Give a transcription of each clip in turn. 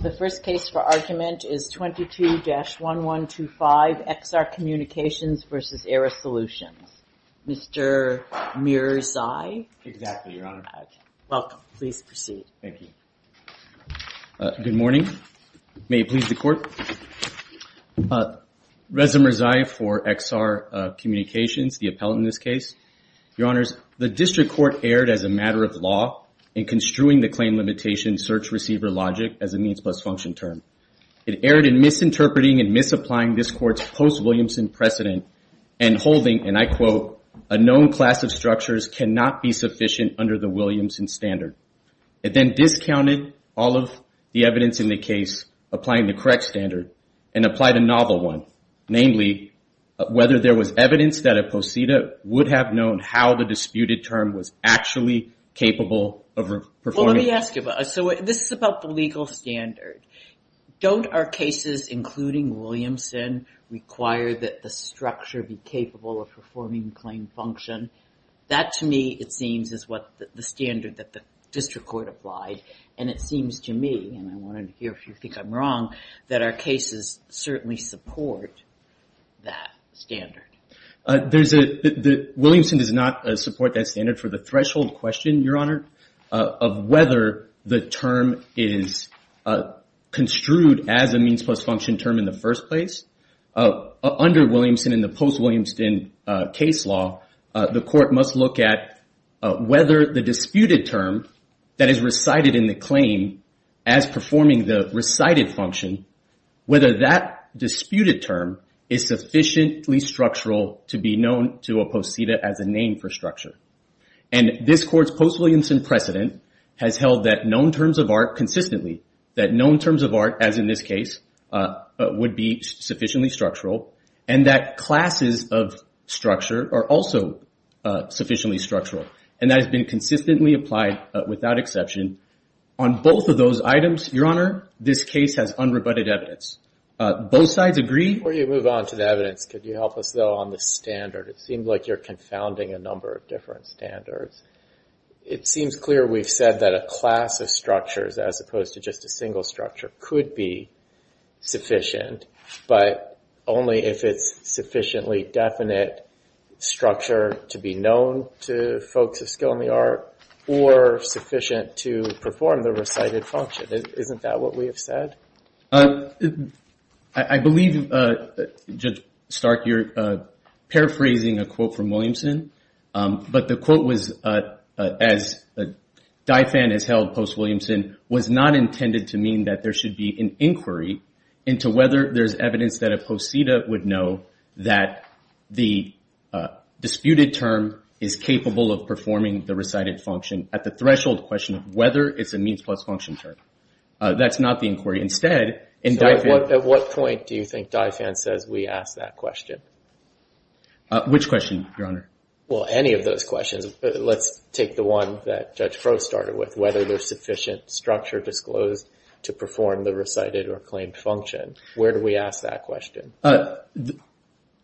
The first case for argument is 22-1125 XR Communications v. ARRIS Solutions. Mr. Mirzai. Exactly, Your Honor. Welcome. Please proceed. Thank you. Good morning. May it please the Court. Reza Mirzai for XR Communications, the appellant in this case. Your Honors, the District Court erred as a matter of law in construing the claim limitation search receiver logic as a means plus function term. It erred in misinterpreting and misapplying this Court's post-Williamson precedent and holding, and I quote, a known class of structures cannot be sufficient under the Williamson standard. It then discounted all of the evidence in the case applying the correct standard and applied a novel one, namely whether there was evidence that a posita would have known how the disputed term was actually capable of performing. Let me ask you, so this is about the legal standard. Don't our cases, including Williamson, require that the structure be capable of performing the claim function? That, to me, it seems is what the standard that the District Court applied, and it seems to me, and I want to hear if you think I'm wrong, that our cases certainly support that standard. Williamson does not support that standard for the threshold question, Your Honor, of whether the term is construed as a means plus function term in the first place. Under Williamson and the post-Williamson case law, the Court must look at whether the disputed term that is recited in the claim as performing the recited function, whether that disputed term is sufficiently structural to be known to a posita as a name for structure. And this Court's post-Williamson precedent has held that known terms of art consistently, that known terms of art, as in this case, would be sufficiently structural, and that classes of structure are also sufficiently structural. And that has been consistently applied, without exception, on both of those items. Your Honor, this case has unrebutted evidence. Both sides agree? Before you move on to the evidence, could you help us, though, on the standard? It seems like you're confounding a number of different standards. It seems clear we've said that a class of structures, as opposed to just a single structure, could be sufficient, but only if it's sufficiently definite structure to be known to folks of skill in the art, or sufficient to perform the recited function. Isn't that what we have said? I believe, Judge Stark, you're paraphrasing a quote from Williamson, but the quote was, as DIFAN has held post-Williamson, was not intended to mean that there should be an inquiry into whether there's evidence that a posita would know that the disputed term is capable of performing the recited function at the threshold question of whether it's a means plus function term. That's not the inquiry. Instead, in DIFAN... At what point do you think DIFAN says we asked that question? Which question, Your Honor? Well, any of those questions. Let's take the one that Judge Crow started with, whether there's sufficient structure disclosed to perform the recited or claimed function. Where do we ask that question?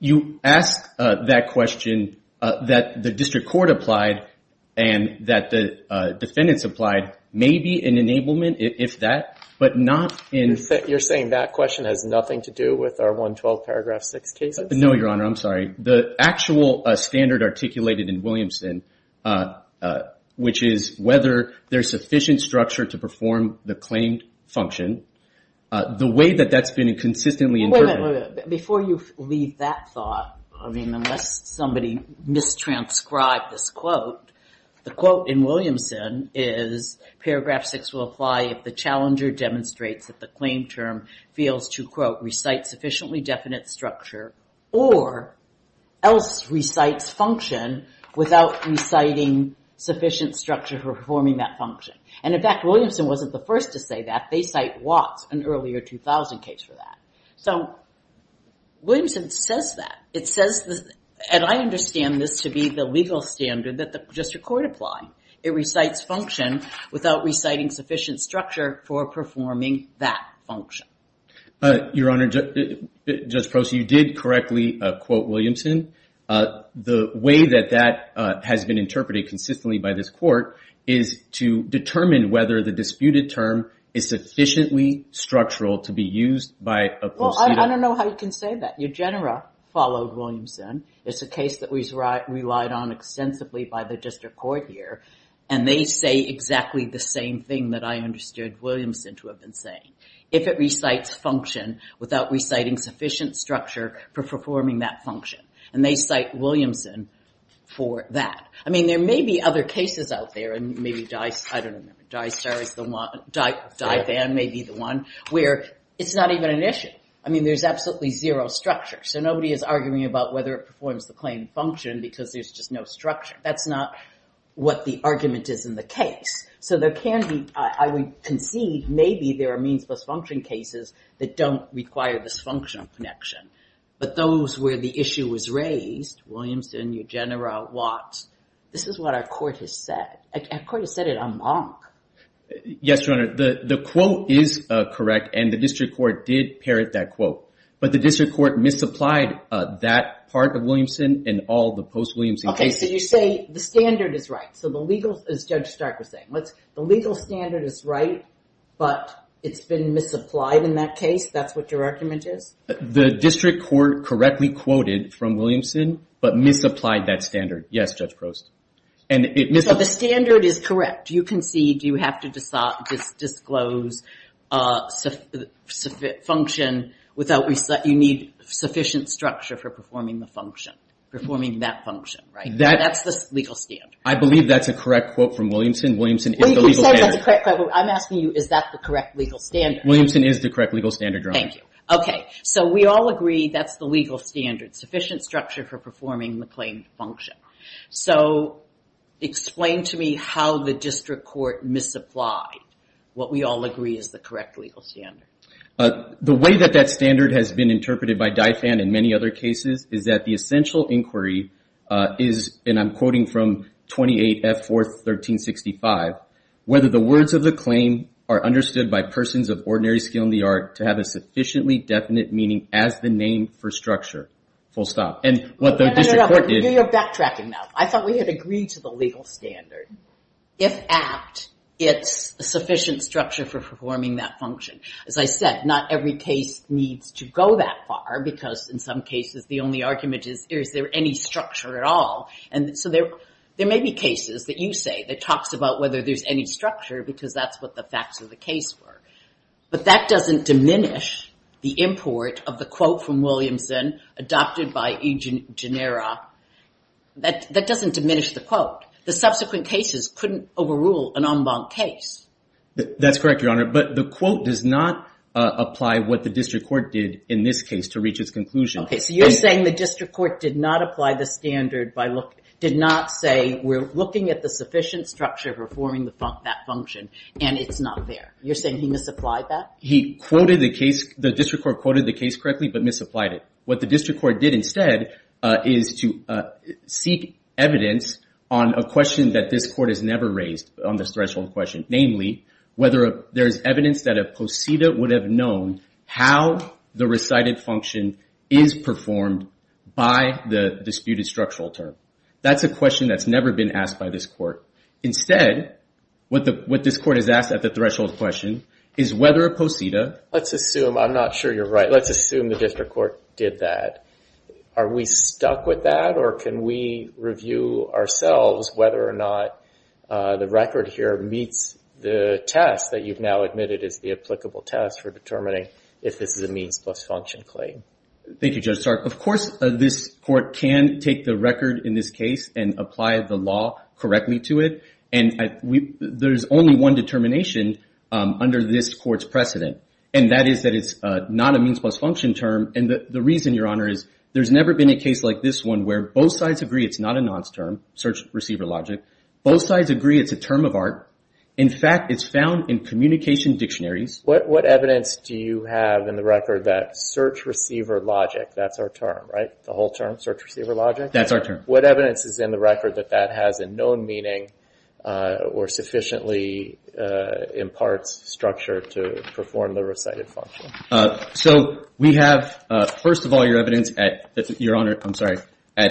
You ask that question that the district court applied and that the defendants applied may be an enablement if that, but not in... You're saying that question has nothing to do with our 112 paragraph 6 cases? No, Your Honor. I'm sorry. The actual standard articulated in Williamson, which is whether there's sufficient structure to perform the claimed function, the way that that's been consistently interpreted... Wait a minute. Before you leave that thought, unless somebody mistranscribed this quote, the quote in Williamson is, paragraph 6 will apply if the challenger demonstrates that the claimed term fails to, quote, recite sufficiently definite structure or else recites function without reciting sufficient structure for performing that function. And in fact, Williamson wasn't the first to say that. They cite Watts, an earlier 2000 case for that. So Williamson says that. It says, and I understand this to be the legal standard that the district court applied. It recites function without reciting sufficient structure for performing that function. Your Honor, Judge Proce, you did correctly quote Williamson. The way that that has been interpreted consistently by this court is to determine whether the disputed term is sufficiently structural to be used by a... Well, I don't know how you can say that. Eugenera followed Williamson. It's a case that was relied on extensively by the district court here. And they say exactly the same thing that I understood Williamson to have been saying. If it recites function without reciting sufficient structure for performing that function. And they cite Williamson for that. I mean, there may be other cases out there, and maybe Dye... I don't remember. Dye Star is the one. Dye Van may be the one where it's not even an issue. I mean, there's absolutely zero structure. So nobody is arguing about whether it performs the claim function because there's just no structure. That's not what the argument is in the case. So there can be, I would concede, maybe there are means plus function cases that don't require this functional connection. But those where the issue was raised, Williamson, Eugenera, Watts, this is what our court has said. Our court has said it en banc. Yes, Your Honor. The quote is correct, and the district court did parrot that quote. But the district court misapplied that part of Williamson and all the post-Williamson cases. Okay, so you say the standard is right. So the legal, as Judge Stark was saying, the legal standard is right, but it's been misapplied in that case. That's what your argument is? The district court correctly quoted from Williamson, but misapplied that standard. Yes, Judge Prost. So the standard is correct. You concede you have to disclose function without, you need sufficient structure for performing the function. Performing that function, right? That's the legal standard. I believe that's a correct quote from Williamson. Williamson is the legal standard. Well, you can say that's a correct quote, but I'm asking you, is that the correct legal standard? Williamson is the correct legal standard, Your Honor. Thank you. Okay, so we all agree that's the legal standard, sufficient structure for performing the claimed function. So explain to me how the district court misapplied what we all agree is the correct legal standard. The way that that standard has been interpreted by Dye Fan and many other cases is that the essential inquiry is, and I'm quoting from 28F41365, whether the words of the claim are understood by persons of ordinary skill in the art to have a sufficiently definite meaning as the name for structure. Full stop. You're backtracking now. I thought we had agreed to the legal standard. If apt, it's sufficient structure for performing that function. As I said, not every case needs to go that far because in some cases the only argument is, is there any structure at all? And so there may be cases that you say that talks about whether there's any structure because that's what the facts of the case were. But that doesn't diminish the import of the quote from Williamson adopted by E. Genera. That doesn't diminish the quote. The subsequent cases couldn't overrule an en banc case. That's correct, Your Honor, but the quote does not apply what the district court did in this case to reach its conclusion. Okay, so you're saying the district court did not apply the standard by look, did not say we're looking at the sufficient structure for performing that function, and it's not there. You're saying he misapplied that? He quoted the case, the district court quoted the case correctly but misapplied it. What the district court did instead is to seek evidence on a question that this court has never raised on this threshold question, namely whether there is evidence that a posita would have known how the recited function is performed by the disputed structural term. That's a question that's never been asked by this court. Instead, what this court has asked at the threshold question is whether a posita. Let's assume I'm not sure you're right. Let's assume the district court did that. Are we stuck with that or can we review ourselves whether or not the record here meets the test that you've now admitted is the applicable test for determining if this is a means plus function claim? Thank you, Judge Stark. Of course, this court can take the record in this case and apply the law correctly to it, and there's only one determination under this court's precedent, and that is that it's not a means plus function term. The reason, Your Honor, is there's never been a case like this one where both sides agree it's not a nonce term, search receiver logic, both sides agree it's a term of art. In fact, it's found in communication dictionaries. What evidence do you have in the record that search receiver logic, that's our term, right? The whole term, search receiver logic? That's our term. What evidence is in the record that that has a known meaning or sufficiently imparts structure to perform the recited function? So we have, first of all, your evidence at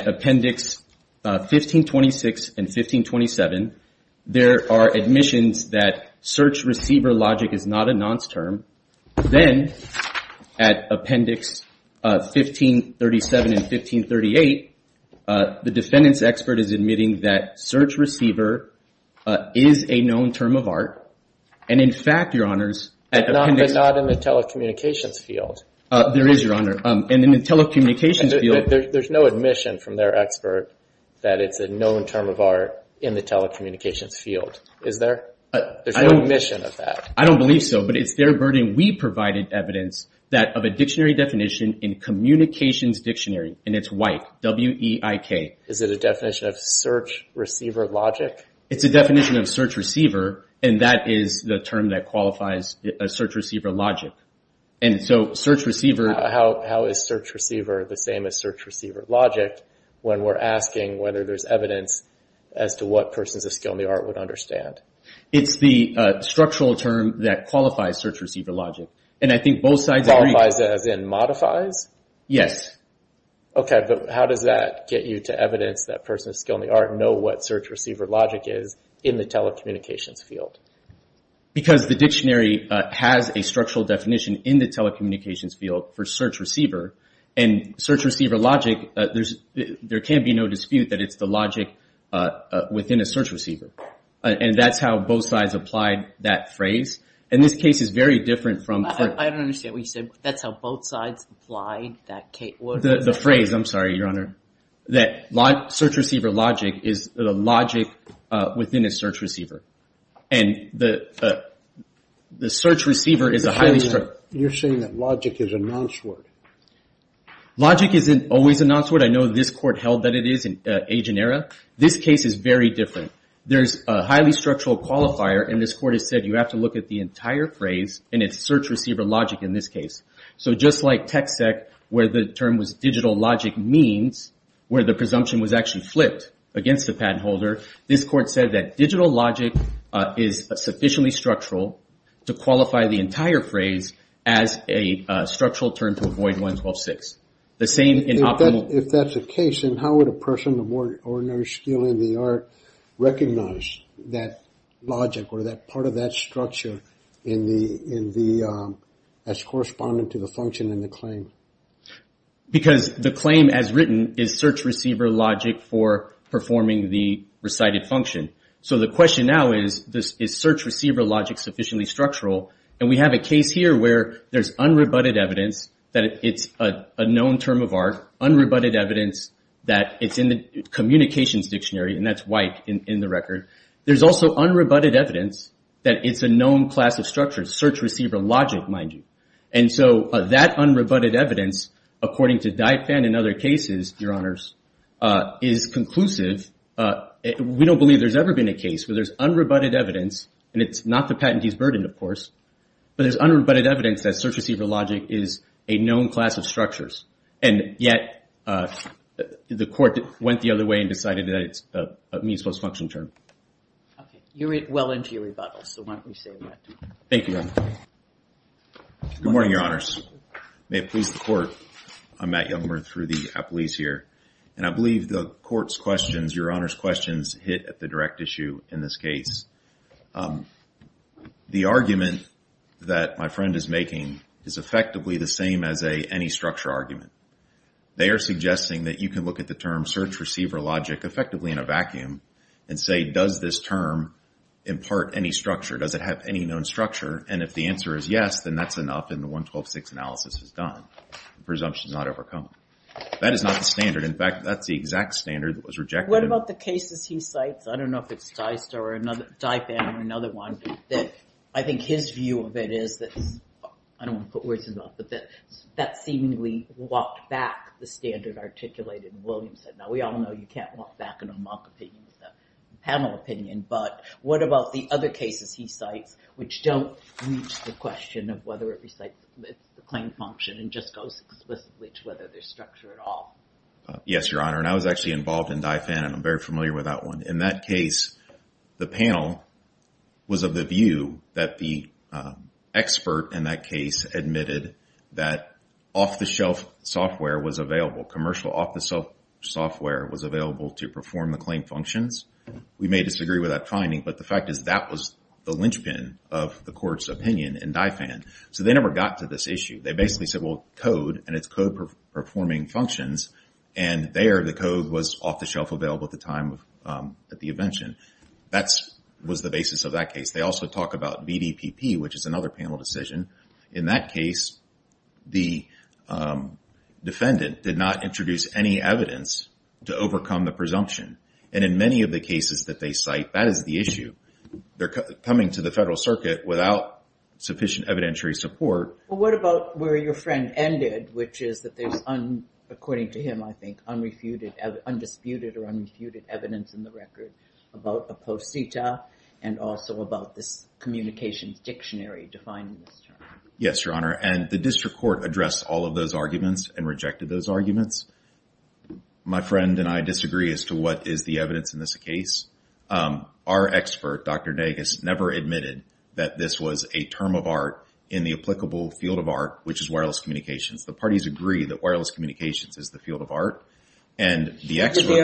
Appendix 1526 and 1527. There are admissions that search receiver logic is not a nonce term. Then at Appendix 1537 and 1538, the defendant's expert is admitting that search receiver is a known term of art, and in fact, Your Honors- But not in the telecommunications field. There is, Your Honor. And in the telecommunications field- There's no admission from their expert that it's a known term of art in the telecommunications field, is there? There's no admission of that. I don't believe so, but it's their verdict. We provided evidence of a dictionary definition in communications dictionary, and it's white, W-E-I-K. Is it a definition of search receiver logic? It's a definition of search receiver, and that is the term that qualifies as search receiver logic. And so search receiver- How is search receiver the same as search receiver logic when we're asking whether there's evidence as to what persons of skill in the art would understand? It's the structural term that qualifies search receiver logic, and I think both sides agree- Qualifies as in modifies? Yes. Okay, but how does that get you to evidence that persons of skill in the art know what search receiver logic is in the telecommunications field? Because the dictionary has a structural definition in the telecommunications field for search receiver, and search receiver logic, there can be no dispute that it's the logic within a search receiver. And that's how both sides applied that phrase. And this case is very different from- I don't understand what you said. That's how both sides applied that case? The phrase, I'm sorry, Your Honor, that search receiver logic is the logic within a search receiver. And the search receiver is a highly- You're saying that logic is a nonce word. Logic isn't always a nonce word. I know this Court held that it is in age and era. This case is very different. There's a highly structural qualifier, and this Court has said you have to look at the entire phrase, and it's search receiver logic in this case. So just like TexEc, where the term was digital logic means, where the presumption was actually flipped against the patent holder, this Court said that digital logic is sufficiently structural to qualify the entire phrase as a structural term to avoid 112.6. If that's the case, then how would a person of ordinary skill in the art recognize that logic or that part of that structure as corresponding to the function in the claim? Because the claim as written is search receiver logic for performing the recited function. So the question now is, is search receiver logic sufficiently structural? And we have a case here where there's unrebutted evidence that it's a known term of art, unrebutted evidence that it's in the communications dictionary, and that's white in the record. There's also unrebutted evidence that it's a known class of structure, search receiver logic, mind you. And so that unrebutted evidence, according to Dyett-Penn and other cases, Your Honors, is conclusive. We don't believe there's ever been a case where there's unrebutted evidence, and it's not the patentee's burden, of course, but there's unrebutted evidence that search receiver logic is a known class of structures, and yet the Court went the other way and decided that it's a means-plus-function term. Okay. You're well into your rebuttal, so why don't we save that. Thank you, Your Honor. Good morning, Your Honors. May it please the Court. I'm Matt Youngberg through the Appellees here. And I believe the Court's questions, Your Honor's questions, hit at the direct issue in this case. The argument that my friend is making is effectively the same as any structure argument. They are suggesting that you can look at the term search receiver logic effectively in a vacuum and say, does this term impart any structure? Does it have any known structure? And if the answer is yes, then that's enough, and the 112-6 analysis is done. The presumption is not overcome. That is not the standard. In fact, that's the exact standard that was rejected. What about the cases he cites? I don't know if it's Dyett-Penn or another one, but I think his view of it is that, I don't want to put words in his mouth, but that seemingly walked back the standard articulated in Williamson. Now, we all know you can't walk back in a mock opinion panel opinion, but what about the other cases he cites which don't reach the question of whether it recites the claim function and just goes explicitly to whether there's structure at all? Yes, Your Honor, and I was actually involved in Dyett-Penn, and I'm very familiar with that one. In that case, the panel was of the view that the expert in that case admitted that off-the-shelf software was available. Commercial off-the-shelf software was available to perform the claim functions. We may disagree with that finding, but the fact is that was the linchpin of the court's opinion in Dyett-Penn. So they never got to this issue. They basically said, well, code, and it's code performing functions, and there the code was off-the-shelf available at the time of the invention. That was the basis of that case. They also talk about VDPP, which is another panel decision. In that case, the defendant did not introduce any evidence to overcome the presumption, and in many of the cases that they cite, that is the issue. They're coming to the Federal Circuit without sufficient evidentiary support. Well, what about where your friend ended, which is that there's, according to him, I think, undisputed or unrefuted evidence in the record about a posita and also about this communications dictionary defined in this term? Yes, Your Honor, and the district court addressed all of those arguments and rejected those arguments. My friend and I disagree as to what is the evidence in this case. Our expert, Dr. Nagus, never admitted that this was a term of art in the applicable field of art, which is wireless communications. The parties agree that wireless communications is the field of art, and the expert— Did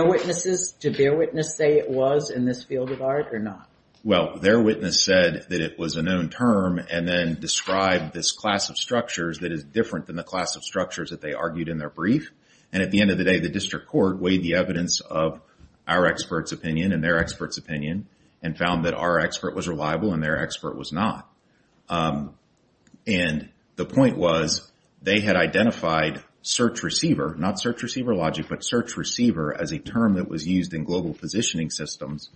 their witness say it was in this field of art or not? Well, their witness said that it was a known term and then described this class of structures that is different than the class of structures that they argued in their brief. At the end of the day, the district court weighed the evidence of our expert's opinion and their expert's opinion and found that our expert was reliable and their expert was not. The point was they had identified search receiver, not search receiver logic, but search receiver as a term that was used in global positioning systems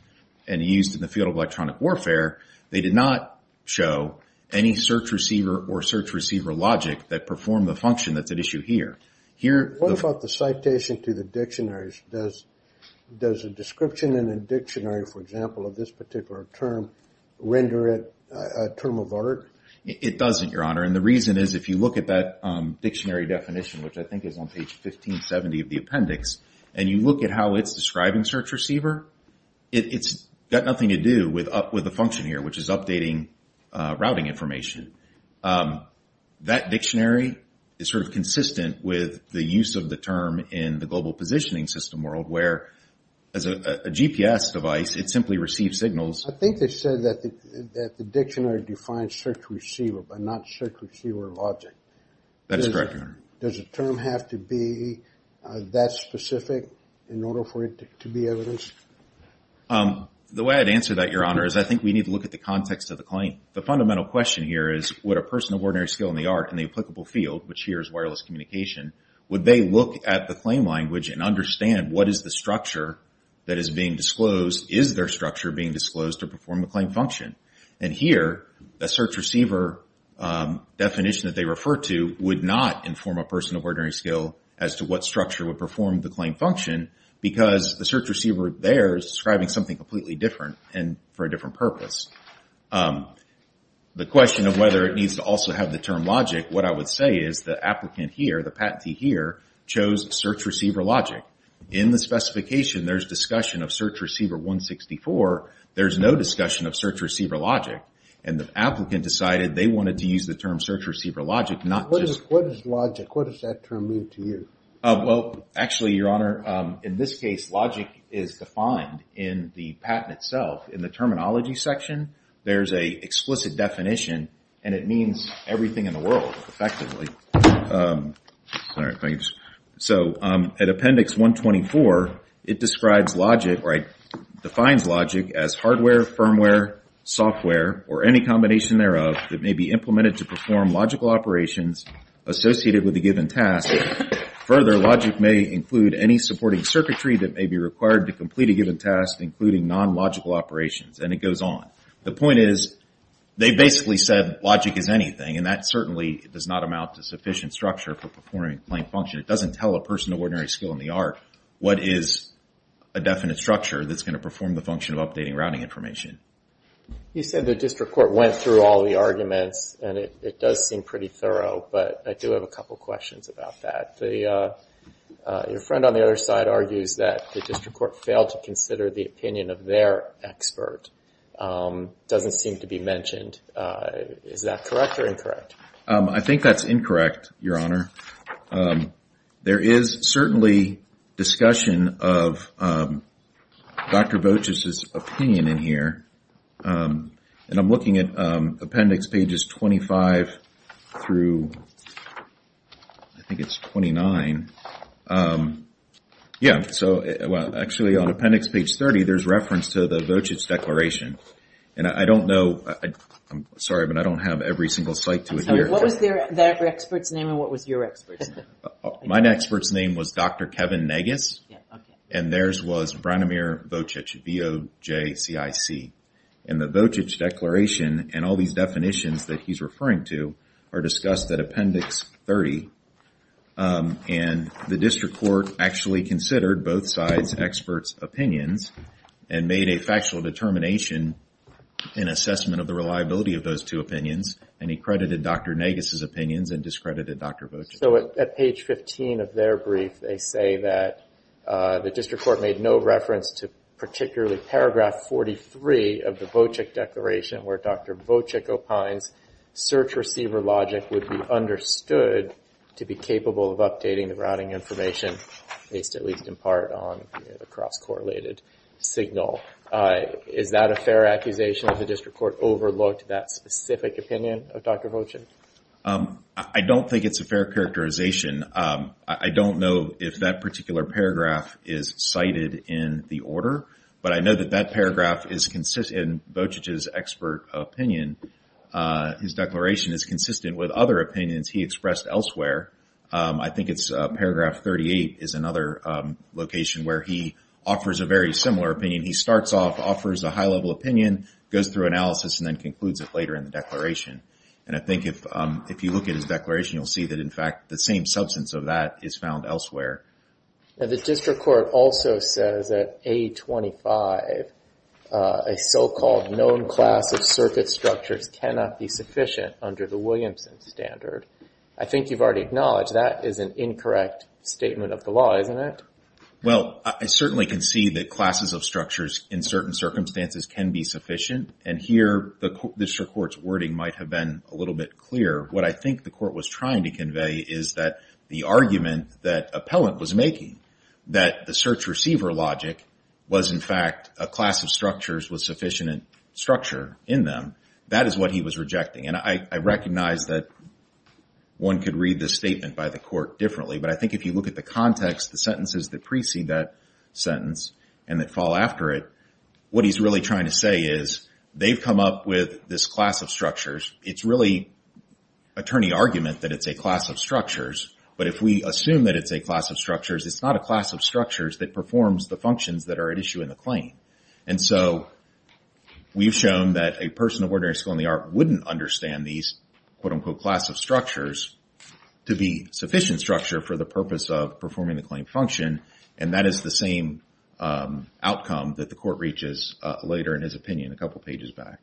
and used in the field of electronic warfare. They did not show any search receiver or search receiver logic that performed the function that's at issue here. What about the citation to the dictionaries? Does a description in a dictionary, for example, of this particular term render it a term of art? It doesn't, Your Honor, and the reason is if you look at that dictionary definition, which I think is on page 1570 of the appendix, and you look at how it's describing search receiver, it's got nothing to do with the function here, which is updating routing information. That dictionary is sort of consistent with the use of the term in the global positioning system world where as a GPS device, it simply receives signals. I think they said that the dictionary defines search receiver but not search receiver logic. That is correct, Your Honor. Does a term have to be that specific in order for it to be evidenced? The way I'd answer that, Your Honor, is I think we need to look at the context of the claim. The fundamental question here is would a person of ordinary skill in the art, in the applicable field, which here is wireless communication, would they look at the claim language and understand what is the structure that is being disclosed? Is their structure being disclosed to perform the claim function? Here, the search receiver definition that they refer to would not inform a person of ordinary skill as to what structure would perform the claim function because the search receiver there is describing something completely different and for a different purpose. The question of whether it needs to also have the term logic, what I would say is the applicant here, the patentee here, chose search receiver logic. In the specification, there's discussion of search receiver 164. There's no discussion of search receiver logic, and the applicant decided they wanted to use the term search receiver logic, not just… What is logic? What does that term mean to you? Well, actually, Your Honor, in this case, logic is defined in the patent itself. In the terminology section, there's an explicit definition, and it means everything in the world, effectively. At appendix 124, it defines logic as hardware, firmware, software, or any combination thereof that may be implemented to perform logical operations associated with a given task. Further, logic may include any supporting circuitry that may be required to complete a given task, including non-logical operations, and it goes on. The point is they basically said logic is anything, and that certainly does not amount to sufficient structure for performing plain function. It doesn't tell a person an ordinary skill in the art what is a definite structure that's going to perform the function of updating routing information. You said the district court went through all the arguments, and it does seem pretty thorough, but I do have a couple questions about that. Your friend on the other side argues that the district court failed to consider the opinion of their expert. It doesn't seem to be mentioned. Is that correct or incorrect? I think that's incorrect, Your Honor. There is certainly discussion of Dr. Boches' opinion in here, and I'm looking at appendix pages 25 through, I think it's 29. Yeah, so actually on appendix page 30, there's reference to the Boches Declaration, and I don't know, I'm sorry, but I don't have every single site to adhere to. What was that expert's name, and what was your expert's name? My expert's name was Dr. Kevin Nagus, and theirs was Branimir Bochich, B-O-J-C-I-C. And the Bochich Declaration and all these definitions that he's referring to are discussed at appendix 30, and the district court actually considered both sides' experts' opinions and made a factual determination in assessment of the reliability of those two opinions, and he credited Dr. Nagus' opinions and discredited Dr. Bochich. So at page 15 of their brief, they say that the district court made no reference to particularly paragraph 43 of the Bochich Declaration where Dr. Bochich opines search receiver logic would be understood to be capable of updating the routing information based at least in part on the cross-correlated signal. Is that a fair accusation that the district court overlooked that specific opinion of Dr. Bochich? I don't think it's a fair characterization. I don't know if that particular paragraph is cited in the order, but I know that that paragraph is consistent in Bochich's expert opinion. His declaration is consistent with other opinions he expressed elsewhere. I think it's paragraph 38 is another location where he offers a very similar opinion. He starts off, offers a high-level opinion, goes through analysis, and then concludes it later in the declaration. And I think if you look at his declaration, you'll see that, in fact, the same substance of that is found elsewhere. The district court also says that A25, a so-called known class of circuit structures, cannot be sufficient under the Williamson standard. I think you've already acknowledged that is an incorrect statement of the law, isn't it? Well, I certainly can see that classes of structures in certain circumstances can be sufficient, and here the district court's wording might have been a little bit clearer. What I think the court was trying to convey is that the argument that appellant was making, that the search-receiver logic was, in fact, a class of structures with sufficient structure in them, that is what he was rejecting. And I recognize that one could read this statement by the court differently, but I think if you look at the context, the sentences that precede that sentence and that fall after it, what he's really trying to say is they've come up with this class of structures. It's really attorney argument that it's a class of structures, but if we assume that it's a class of structures, it's not a class of structures that performs the functions that are at issue in the claim. And so we've shown that a person of ordinary skill in the art wouldn't understand these, quote-unquote, class of structures to be sufficient structure for the purpose of performing the claim function, and that is the same outcome that the court reaches later in his opinion a couple pages back.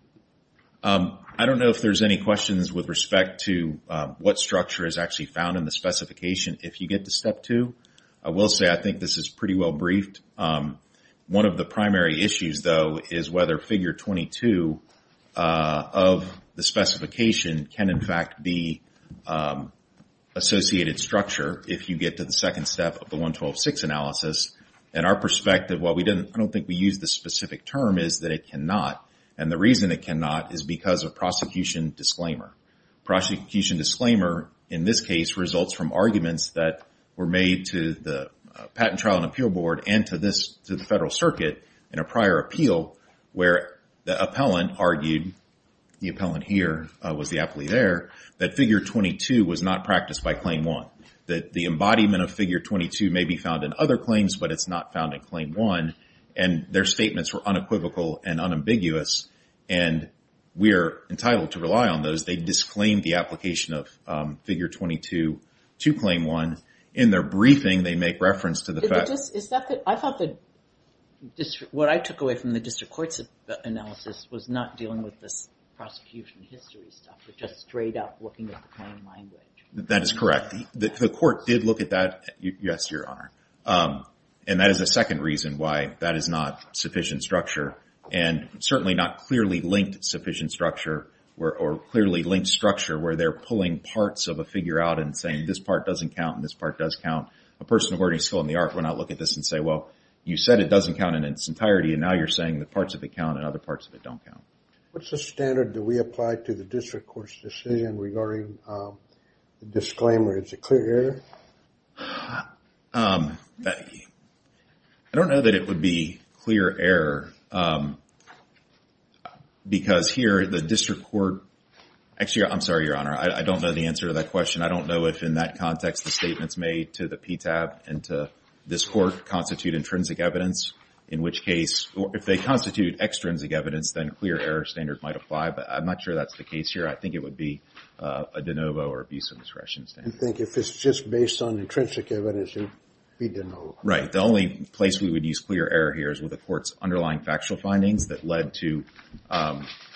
I don't know if there's any questions with respect to what structure is actually found in the specification if you get to step two. I will say I think this is pretty well briefed. One of the primary issues, though, is whether figure 22 of the specification can, in fact, be associated structure if you get to the second step of the 112-6 analysis. And our perspective, while I don't think we use this specific term, is that it cannot, and the reason it cannot is because of prosecution disclaimer. Prosecution disclaimer in this case results from arguments that were made to the Patent Trial and Appeal Board and to the Federal Circuit in a prior appeal where the appellant argued, the appellant here was the appellee there, that figure 22 was not practiced by Claim 1, that the embodiment of figure 22 may be found in other claims, but it's not found in Claim 1, and their statements were unequivocal and unambiguous, and we're entitled to rely on those. They disclaimed the application of figure 22 to Claim 1. In their briefing, they make reference to the fact that the district court analysis was not dealing with the prosecution history stuff, but just straight up looking at the claim language. That is correct. The court did look at that, yes, Your Honor, and that is the second reason why that is not sufficient structure, and certainly not clearly linked sufficient structure or clearly linked structure where they're pulling parts of a figure out and saying this part doesn't count and this part does count. A person of learning skill in the art would not look at this and say, well, you said it doesn't count in its entirety, and now you're saying that parts of it count and other parts of it don't count. What's the standard that we apply to the district court's decision regarding the disclaimer? Is it clear error? I don't know that it would be clear error because here the district court – actually, I'm sorry, Your Honor, I don't know the answer to that question. I don't know if in that context the statements made to the PTAB and to this court constitute intrinsic evidence, in which case – if they constitute extrinsic evidence, then clear error standard might apply, but I'm not sure that's the case here. I think it would be a de novo or abuse of discretion standard. You think if it's just based on intrinsic evidence, it would be de novo. Right. The only place we would use clear error here is with the court's underlying factual findings that led to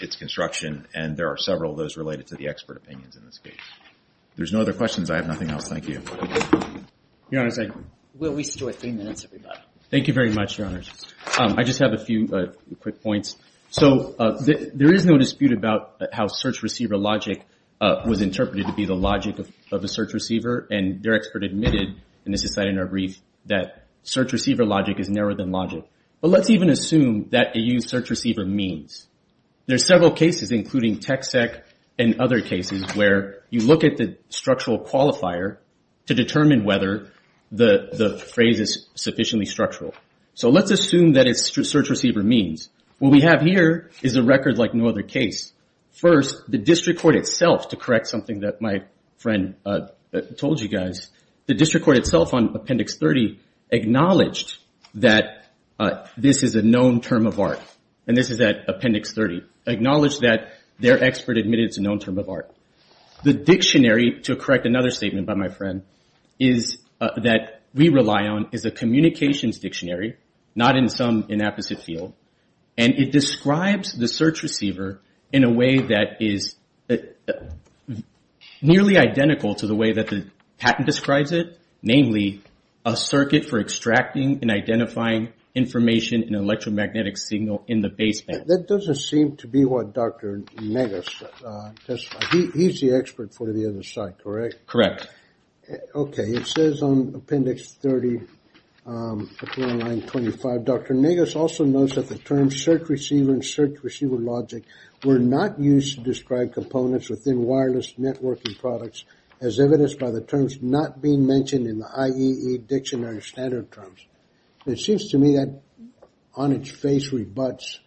its construction, and there are several of those related to the expert opinions in this case. If there's no other questions, I have nothing else. Thank you. Your Honor, thank you. We still have three minutes, everybody. Thank you very much, Your Honor. I just have a few quick points. So there is no dispute about how search receiver logic was interpreted to be the logic of a search receiver, and their expert admitted, and this is cited in our brief, that search receiver logic is narrower than logic. But let's even assume that a used search receiver means. There are several cases, including TxEHC and other cases, where you look at the structural qualifier to determine whether the phrase is sufficiently structural. So let's assume that it's search receiver means. What we have here is a record like no other case. First, the district court itself, to correct something that my friend told you guys, the district court itself on Appendix 30 acknowledged that this is a known term of art, and this is at Appendix 30, acknowledged that their expert admitted it's a known term of art. The dictionary, to correct another statement by my friend, is that we rely on is a communications dictionary, not in some inapposite field, and it describes the search receiver in a way that is nearly identical to the way that the patent describes it, namely a circuit for extracting and identifying information in an electromagnetic signal in the baseband. That doesn't seem to be what Dr. Negus testified. He's the expert for the other side, correct? Correct. Okay. It says on Appendix 30, line 25, Dr. Negus also knows that the term search receiver and search receiver logic were not used to describe components within wireless networking products as evidenced by the terms not being mentioned in the IEE dictionary standard terms. It seems to me that on its face rebuts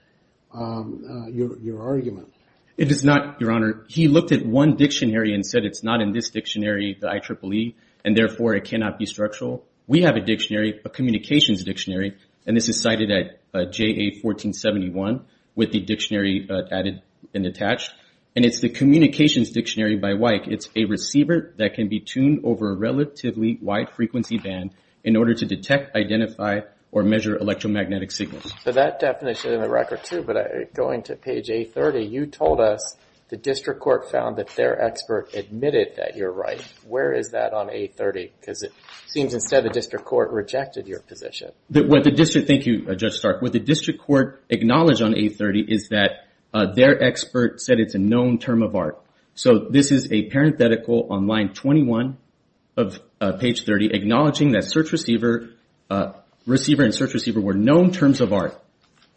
your argument. It does not, Your Honor. He looked at one dictionary and said it's not in this dictionary, the IEEE, and therefore it cannot be structural. We have a dictionary, a communications dictionary, and this is cited at JA 1471 with the dictionary added and attached, and it's the communications dictionary by Weick. It's a receiver that can be tuned over a relatively wide frequency band in order to detect, identify, or measure electromagnetic signals. So that definition in the record, too, but going to page A30, you told us the district court found that their expert admitted that you're right. Where is that on A30? Because it seems instead the district court rejected your position. Thank you, Judge Stark. What the district court acknowledged on A30 is that their expert said it's a known term of art. So this is a parenthetical on line 21 of page 30 acknowledging that search receiver and search receiver were known terms of art.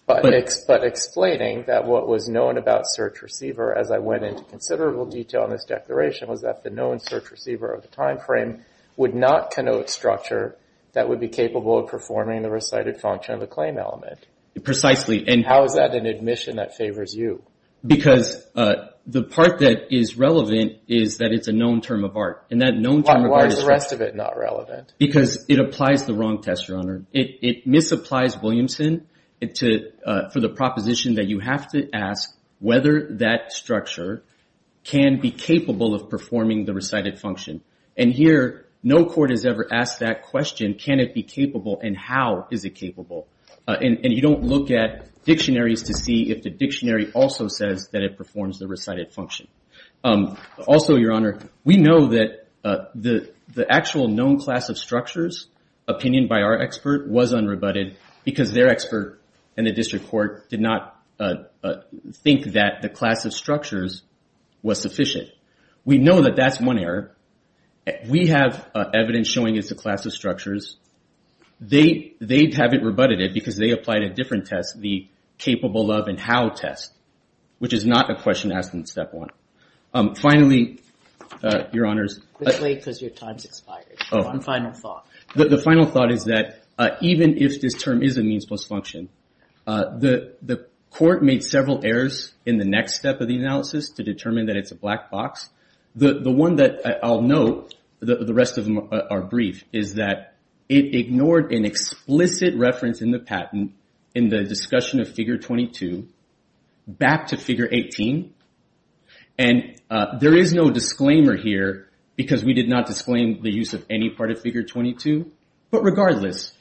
But explaining that what was known about search receiver, as I went into considerable detail in this declaration, was that the known search receiver of the time frame would not connote structure that would be capable of performing the recited function of a claim element. Precisely. How is that an admission that favors you? Because the part that is relevant is that it's a known term of art. Why is the rest of it not relevant? Because it applies the wrong test, Your Honor. It misapplies Williamson for the proposition that you have to ask whether that structure can be capable of performing the recited function. And here, no court has ever asked that question, can it be capable and how is it capable? And you don't look at dictionaries to see if the dictionary also says that it performs the recited function. Also, Your Honor, we know that the actual known class of structures, opinion by our expert, was unrebutted because their expert and the district court did not think that the class of structures was sufficient. We know that that's one error. We have evidence showing it's a class of structures. They haven't rebutted it because they applied a different test, the capable of and how test, which is not a question asked in step one. Finally, Your Honors. Quickly, because your time has expired. One final thought. The final thought is that even if this term is a means plus function, the court made several errors in the next step of the analysis to determine that it's a black box. The one that I'll note, the rest of them are brief, is that it ignored an explicit reference in the patent in the discussion of figure 22 back to figure 18. And there is no disclaimer here because we did not disclaim the use of any part of figure 22. But regardless,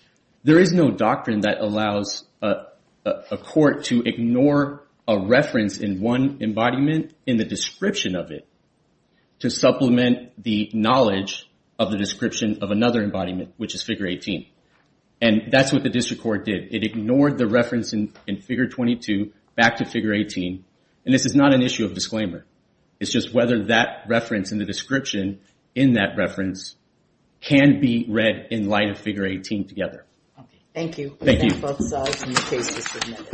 there is no doctrine that allows a court to ignore a reference in one embodiment in the description of it to supplement the knowledge of the description of another embodiment, which is figure 18. And that's what the district court did. It ignored the reference in figure 22 back to figure 18. And this is not an issue of disclaimer. It's just whether that reference in the description in that reference can be read in light of figure 18 together. Thank you. Thank you.